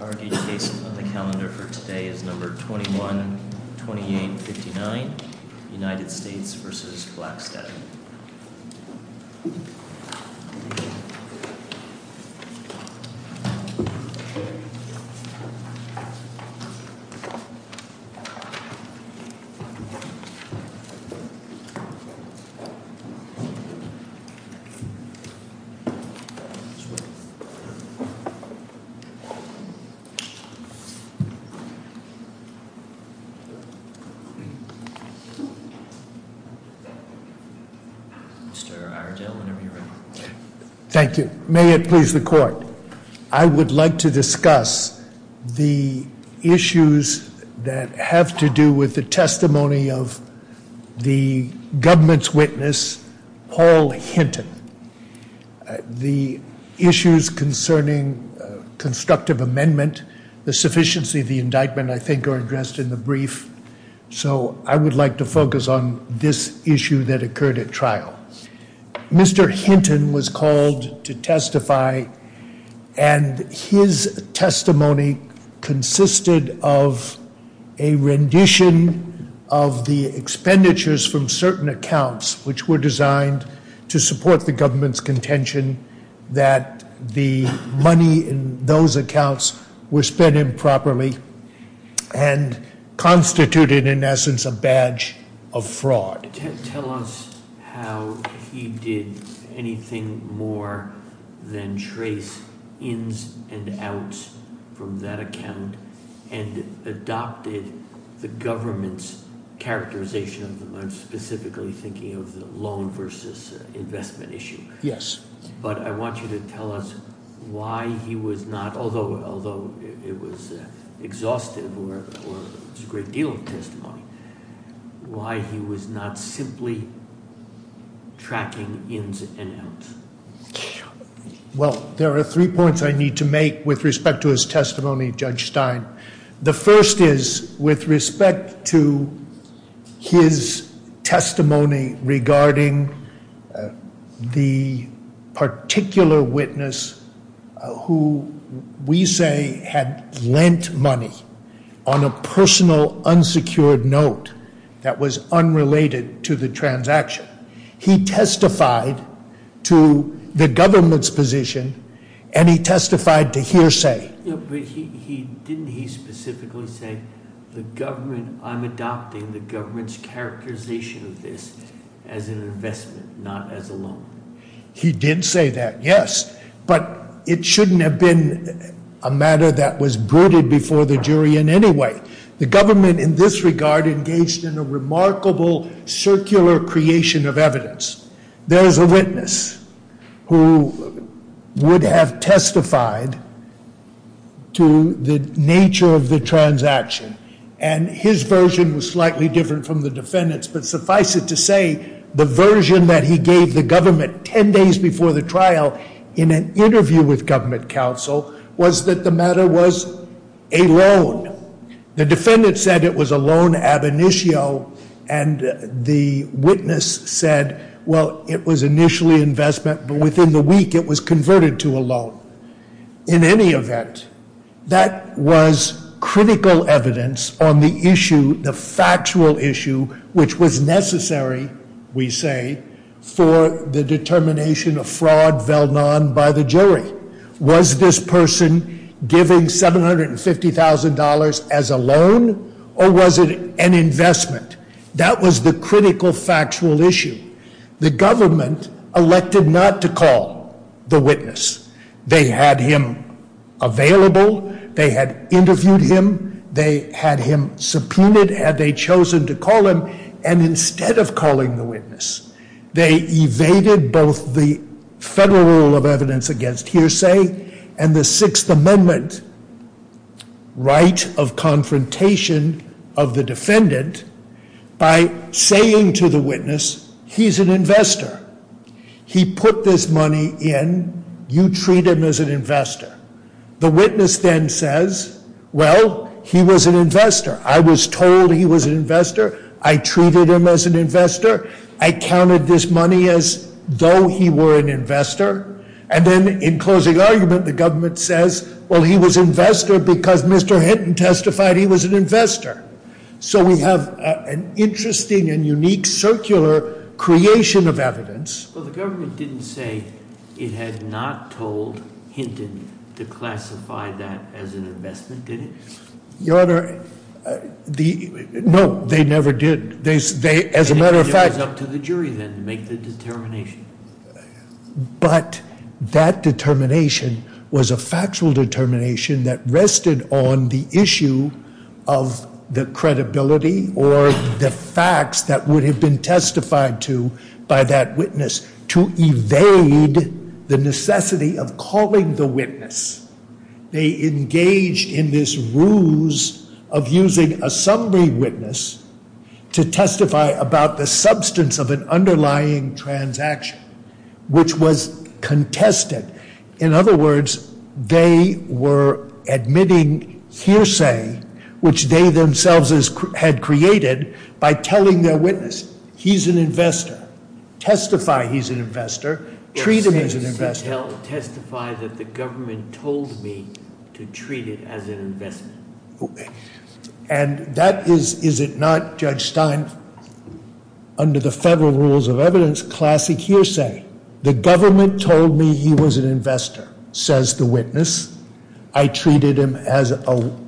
Our case on the calendar for today is No. 21-2859, United States v. Blakstad. Thank you. May it please the court. I would like to discuss the issues that have to do with the testimony of the government's witness, Paul Hinton. The issues concerning constructive amendment, the sufficiency of the indictment, I think are addressed in the brief. So I would like to focus on this issue that occurred at trial. Mr. Hinton was called to testify and his testimony consisted of a rendition of the expenditures from certain accounts which were designed to support the government's contention that the money in those accounts was spent improperly and constituted, in essence, a badge of fraud. Tell us how he did anything more than trace ins and outs from that account and adopted the government's characterization of them. I'm specifically thinking of the loan versus investment issue. Yes. But I want you to tell us why he was not, although it was exhaustive or was a great deal of testimony, why he was not simply tracking ins and outs. Well, there are three points I need to make with respect to his testimony, Judge Stein. The first is with respect to his testimony regarding the particular witness who we say had lent money on a personal unsecured note that was unrelated to the transaction. He testified to the government's position and he testified to hearsay. Didn't he specifically say the government, I'm adopting the government's characterization of this as an investment, not as a loan? He did say that, yes, but it shouldn't have been a matter that was brooded before the jury in any way. The government in this regard engaged in a remarkable circular creation of evidence. There is a witness who would have testified to the nature of the transaction and his version was slightly different from the defendant's, but suffice it to say, the version that he gave the government ten days before the trial in an interview with government counsel was that the matter was a loan. The defendant said it was a loan ab initio and the witness said, well, it was initially investment, but within the week it was converted to a loan. In any event, that was critical evidence on the issue, the factual issue, which was necessary, we say, for the determination of fraud veiled on by the jury. Was this person giving $750,000 as a loan or was it an investment? That was the critical factual issue. The government elected not to call the witness. They had him available, they had interviewed him, they had him subpoenaed, had they chosen to call him, and instead of calling the witness, they evaded both the federal rule of evidence against hearsay and the Sixth Amendment right of confrontation of the defendant by saying to the witness, he's an investor. He put this money in, you treat him as an investor. The witness then says, well, he was an investor. I was told he was an investor, I treated him as an investor, I counted this money as though he were an investor, and then in closing argument, the government says, well, he was investor because Mr. Hinton testified he was an investor. So we have an interesting and unique circular creation of evidence. Well, the government didn't say it had not told Hinton to classify that as an investment, did it? Your Honor, the, no, they never did. They, as a matter of fact- And it was up to the jury then to make the determination. But that determination was a factual determination that rested on the issue of the credibility or the facts that would have been testified to by that witness to evade the necessity of calling the witness. They engaged in this ruse of using a summary witness to testify about the substance of an underlying transaction, which was contested. In other words, they were admitting hearsay, which they themselves had created by telling their witness, he's an investor. Testify he's an investor, treat him as an investor. Testify that the government told me to treat it as an investment. And that is, is it not, Judge Stein, under the federal rules of evidence, classic hearsay. The government told me he was an investor, says the witness. I treated him as an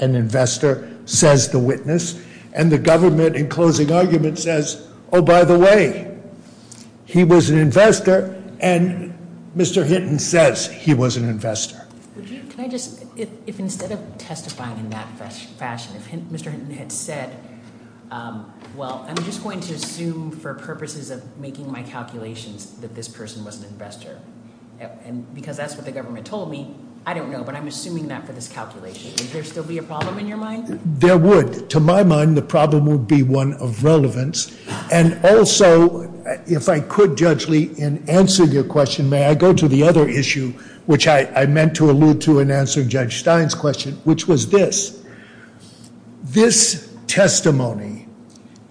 investor, says the witness. And the government, in closing argument, says, oh, by the way, he was an investor. And Mr. Hinton says he was an investor. Would you, can I just, if instead of testifying in that fashion, if Mr. Hinton had said, well, I'm just going to assume for purposes of making my calculations that this person was an investor. And because that's what the government told me, I don't know, but I'm assuming that for this calculation. Would there still be a problem in your mind? There would. To my mind, the problem would be one of relevance. And also, if I could, Judge Lee, in answering your question, may I go to the other issue, which I meant to allude to in answering Judge Stein's question, which was this. This testimony,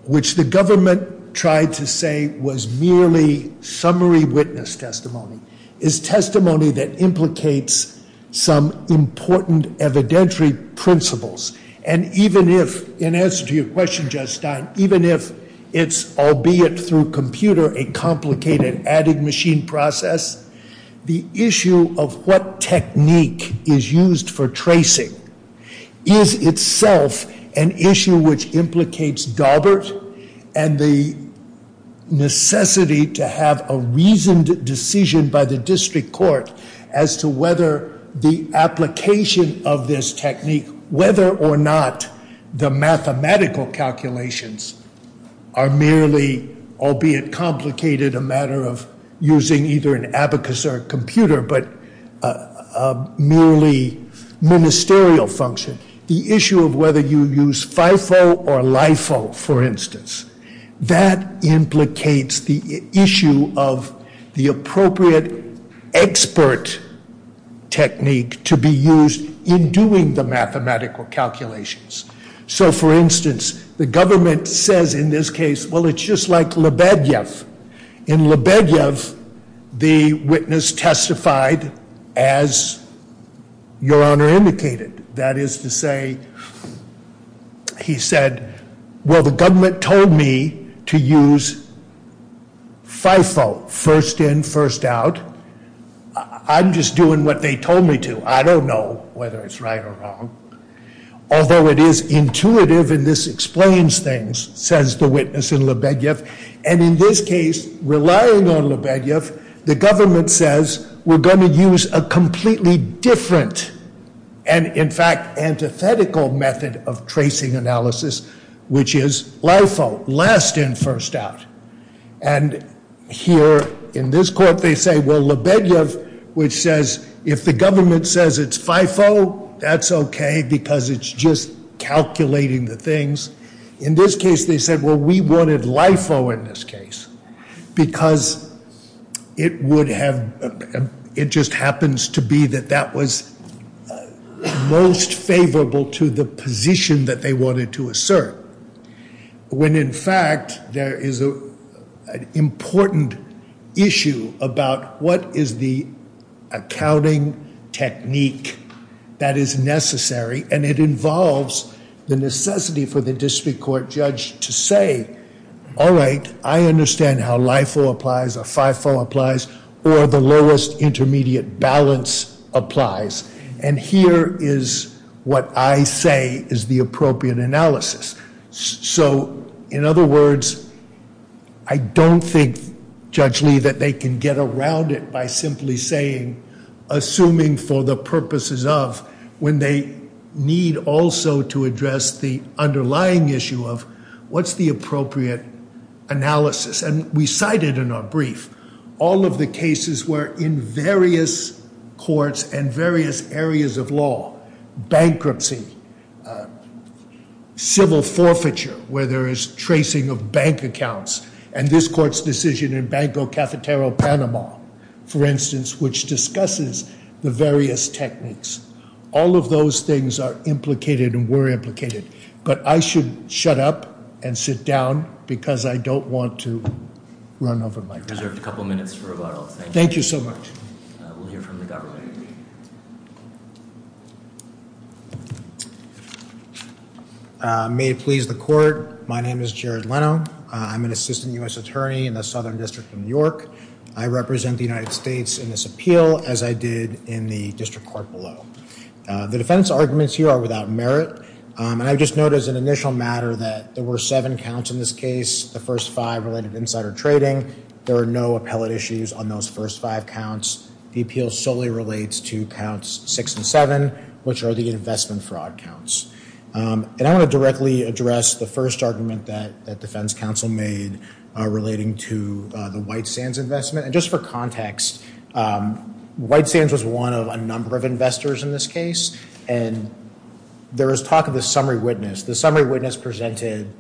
which the government tried to say was merely summary witness testimony, is testimony that implicates some important evidentiary principles. And even if, in answer to your question, Judge Stein, even if it's, albeit through computer, a complicated adding machine process, the issue of what technique is used for tracing is itself an issue which implicates Daubert. And the necessity to have a reasoned decision by the district court as to whether the application of this technique, whether or not the mathematical calculations are merely, albeit complicated, a matter of using either an abacus or a computer, but a merely ministerial function. The issue of whether you use FIFO or LIFO, for instance, that implicates the issue of the appropriate expert technique to be used in doing the mathematical calculations. So, for instance, the government says in this case, well, it's just like Lebedev. In Lebedev, the witness testified as your Honor indicated. That is to say, he said, well, the government told me to use FIFO. First in, first out. I'm just doing what they told me to. I don't know whether it's right or wrong. Although it is intuitive, and this explains things, says the witness in Lebedev. And in this case, relying on Lebedev, the government says, we're going to use a completely different, and in fact, antithetical method of tracing analysis, which is LIFO, last in, first out. And here, in this court, they say, well, Lebedev, which says, if the government says it's FIFO, that's okay, because it's just calculating the things. In this case, they said, well, we wanted LIFO in this case. Because it would have, it just happens to be that that was most favorable to the position that they wanted to assert. When in fact, there is an important issue about what is the accounting technique that is necessary. And it involves the necessity for the district court judge to say, all right, I understand how LIFO applies, or FIFO applies, or the lowest intermediate balance applies. And here is what I say is the appropriate analysis. So in other words, I don't think, Judge Lee, that they can get around it by simply saying, assuming for the purposes of, when they need also to address the underlying issue of, what's the appropriate analysis? And we cited in our brief, all of the cases where in various courts and various areas of law, bankruptcy, civil forfeiture, where there is tracing of bank accounts, and this court's decision in Banco Cafeterio Panama, for instance, which discusses the various techniques. All of those things are implicated and were implicated. But I should shut up and sit down, because I don't want to run over my time. We've reserved a couple minutes for rebuttals. Thank you. Thank you so much. We'll hear from the government. May it please the court. My name is Jared Leno. I'm an assistant U.S. attorney in the Southern District of New York. I represent the United States in this appeal, as I did in the district court below. The defense arguments here are without merit. And I just note as an initial matter that there were seven counts in this case, the first five related to insider trading. There are no appellate issues on those first five counts. The appeal solely relates to counts six and seven, which are the investment fraud counts. And I want to directly address the first argument that defense counsel made, relating to the White Sands investment. And just for context, White Sands was one of a number of investors in this case. And there was talk of the summary witness. The summary witness presented,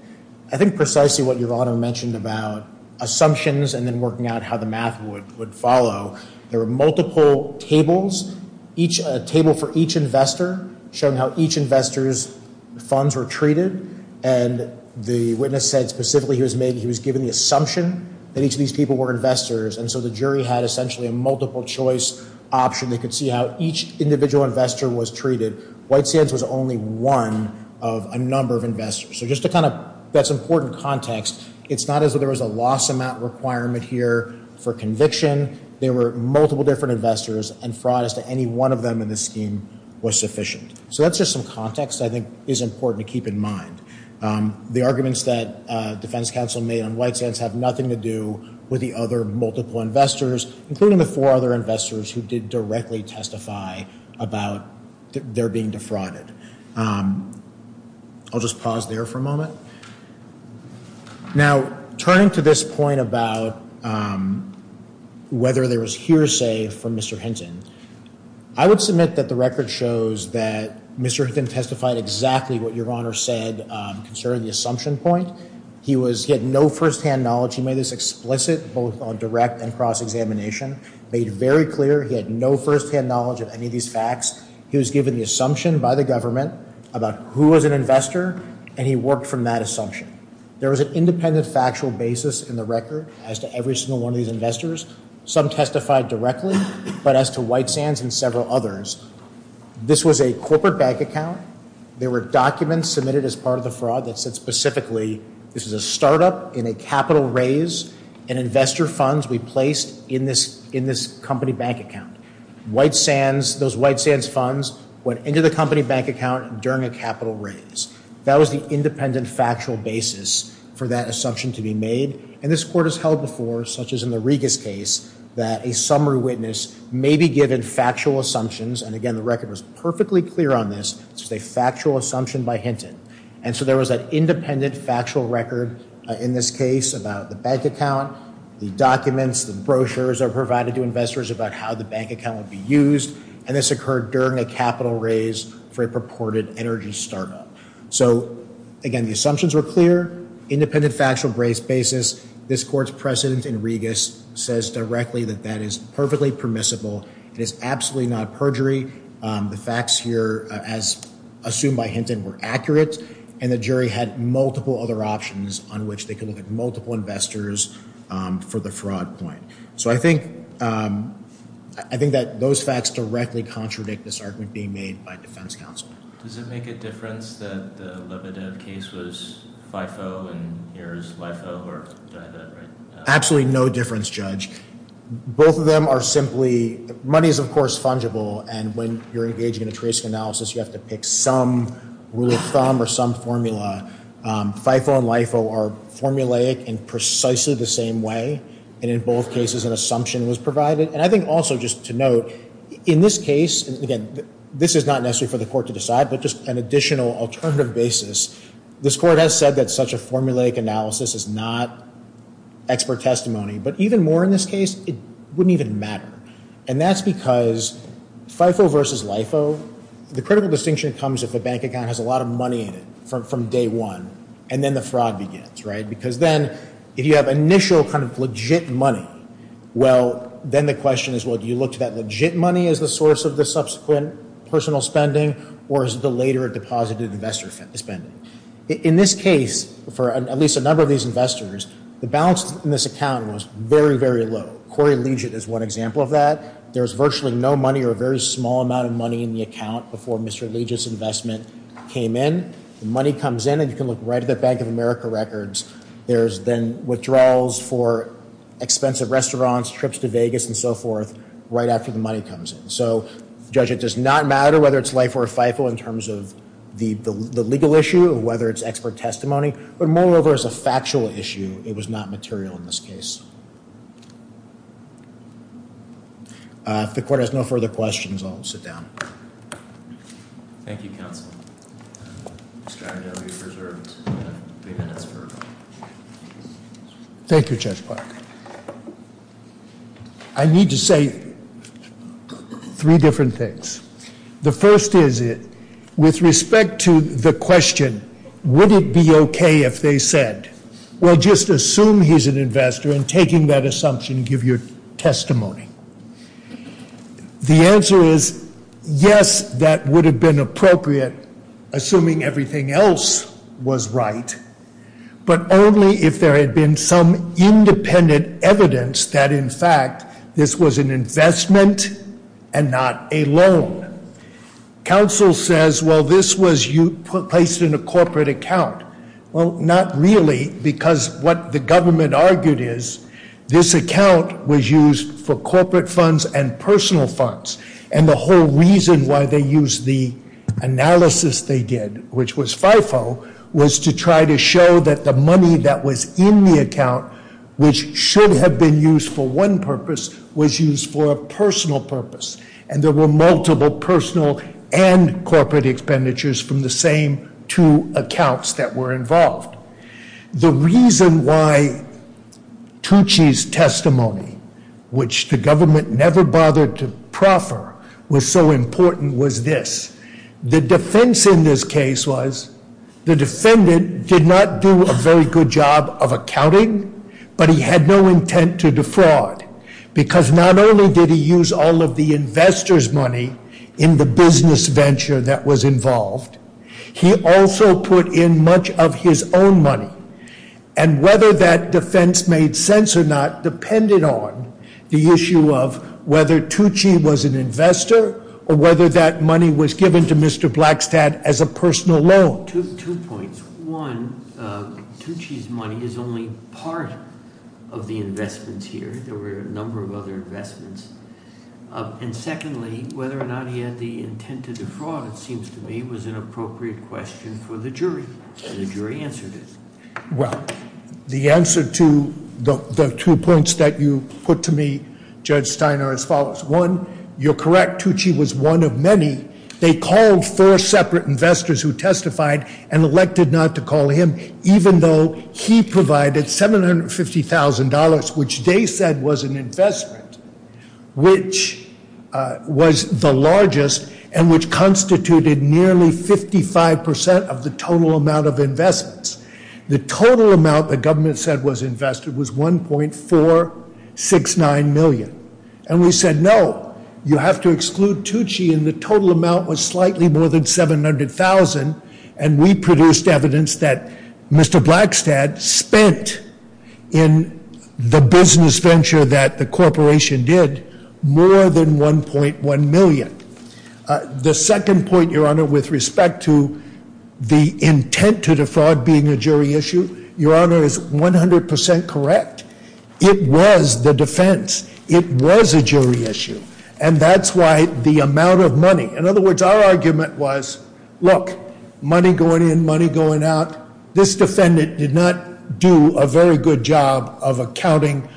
I think, precisely what your honor mentioned about assumptions and then working out how the math would follow. There were multiple tables, a table for each investor, showing how each investor's funds were treated. And the witness said specifically he was given the assumption that each of these people were investors. And so the jury had essentially a multiple choice option. They could see how each individual investor was treated. White Sands was only one of a number of investors. So just to kind of, that's important context. It's not as if there was a loss amount requirement here for conviction. There were multiple different investors and fraud as to any one of them in this scheme was sufficient. So that's just some context I think is important to keep in mind. The arguments that defense counsel made on White Sands have nothing to do with the other multiple investors, including the four other investors who did directly testify about their being defrauded. I'll just pause there for a moment. Now, turning to this point about whether there was hearsay from Mr. Hinton. I would submit that the record shows that Mr. Hinton testified exactly what your Honor said concerning the assumption point. He was, he had no first-hand knowledge. He made this explicit both on direct and cross-examination. Made very clear he had no first-hand knowledge of any of these facts. He was given the assumption by the government about who was an investor. And he worked from that assumption. There was an independent factual basis in the record as to every single one of these investors. Some testified directly, but as to White Sands and several others. This was a corporate bank account. There were documents submitted as part of the fraud that said specifically, this is a startup in a capital raise and investor funds be placed in this company bank account. White Sands, those White Sands funds went into the company bank account during a capital raise. That was the independent factual basis for that assumption to be made. And this court has held before, such as in the Regas case, that a summary witness may be given factual assumptions. And again, the record was perfectly clear on this. It's a factual assumption by Hinton. And so there was an independent factual record in this case about the bank account, the documents, the brochures are provided to investors about how the bank account would be used. And this occurred during a capital raise for a purported energy startup. So again, the assumptions were clear. Independent factual basis. This court's precedent in Regas says directly that that is perfectly permissible. It is absolutely not perjury. The facts here, as assumed by Hinton, were accurate. And the jury had multiple other options on which they could look at multiple investors for the fraud point. So I think, I think that those facts directly contradict this argument being made by defense counsel. Does it make a difference that the Lebedev case was FIFO and here is LIFO, or do I have that right? Absolutely no difference, Judge. Both of them are simply, money is, of course, fungible. And when you're engaging in a trace analysis, you have to pick some rule of thumb or some formula. FIFO and LIFO are formulaic in precisely the same way. And in both cases, an assumption was provided. And I think also just to note, in this case, again, this is not necessary for the court to decide, but just an additional alternative basis, this court has said that such a formulaic analysis is not expert testimony. But even more in this case, it wouldn't even matter. And that's because FIFO versus LIFO, the critical distinction comes if a bank account has a lot of money in it from day one. And then the fraud begins, right? Because then, if you have initial kind of legit money, well, then the question is, well, do you look to that legit money as the source of the subsequent personal spending, or is it the later deposited investor spending? In this case, for at least a number of these investors, the balance in this account was very, very low. Corey Legit is one example of that. There was virtually no money or a very small amount of money in the account before Mr. Legit's investment came in. The money comes in, and you can look right at the Bank of America records. There's then withdrawals for expensive restaurants, trips to Vegas, and so forth, right after the money comes in. So, Judge, it does not matter whether it's LIFO or FIFO in terms of the legal issue, whether it's expert testimony, but moreover, as a factual issue, it was not material in this case. If the court has no further questions, I'll sit down. Thank you, Counsel. Mr. Iredell, you're preserved three minutes per. Thank you, Judge Park. I need to say three different things. The first is, with respect to the question, would it be okay if they said, well, just assume he's an investor, and taking that assumption, give your testimony. The answer is, yes, that would have been appropriate, assuming everything else was right, but only if there had been some independent evidence that, in fact, this was an investment and not a loan. Counsel says, well, this was placed in a corporate account. Well, not really, because what the government argued is, this account was used for corporate funds and personal funds, and the whole reason why they used the analysis they did, which was FIFO, was to try to show that the money that was in the account, which should have been used for one purpose, was used for a personal purpose, and there were multiple personal and corporate expenditures from the same two accounts that were involved. The reason why Tucci's testimony, which the government never bothered to proffer, was so important was this. The defense in this case was, the defendant did not do a very good job of accounting, but he had no intent to defraud, because not only did he use all of the investor's money in the business venture that was involved, he also put in much of his own money, and whether that defense made sense or not depended on the issue of whether Tucci was an investor or whether that money was given to Mr. Blackstat as a personal loan. Two points. One, Tucci's money is only part of the investments here. There were a number of other investments. And secondly, whether or not he had the intent to defraud, it seems to me, was an appropriate question for the jury, and the jury answered it. Well, the answer to the two points that you put to me, Judge Stein, are as follows. One, you're correct, Tucci was one of many. They called four separate investors who testified and elected not to call him, even though he provided $750,000, which they said was an investment, which was the largest, and which constituted nearly 55% of the total amount of investments. The total amount the government said was invested was 1.469 million. And we said, no, you have to exclude Tucci, and the total amount was slightly more than 700,000. And we produced evidence that Mr. Blackstat spent in the business venture that the corporation did more than 1.1 million. The second point, Your Honor, with respect to the intent to defraud being a jury issue, Your Honor, is 100% correct, it was the defense, it was a jury issue. And that's why the amount of money. In other words, our argument was, look, money going in, money going out. This defendant did not do a very good job of accounting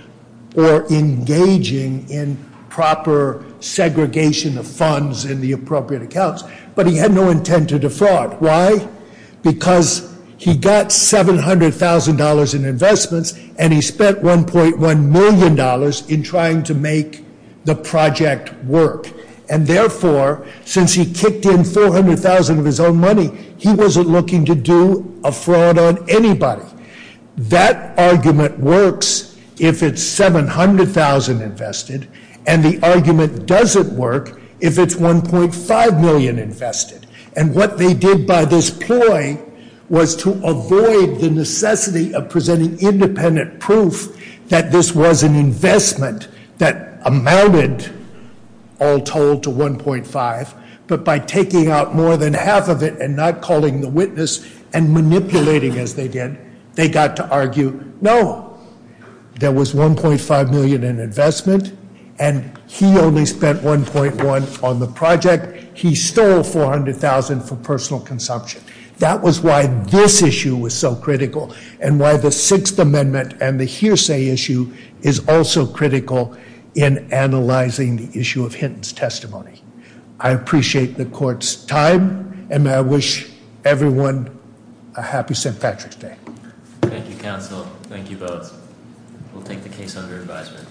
or engaging in proper segregation of funds in the appropriate accounts. But he had no intent to defraud, why? Because he got $700,000 in investments and he spent $1.1 million in trying to make the project work. And therefore, since he kicked in $400,000 of his own money, he wasn't looking to do a fraud on anybody. That argument works if it's $700,000 invested, and the argument doesn't work if it's $1.5 million invested. And what they did by this ploy was to avoid the necessity of presenting an independent proof that this was an investment that amounted all told to 1.5. But by taking out more than half of it and not calling the witness and manipulating as they did, they got to argue, no, there was 1.5 million in investment. And he only spent 1.1 on the project, he stole 400,000 for personal consumption. That was why this issue was so critical, and why the Sixth Amendment and the hearsay issue is also critical in analyzing the issue of Hinton's testimony. I appreciate the court's time, and I wish everyone a happy St. Patrick's Day. Thank you, counsel. Thank you both. We'll take the case under advisement.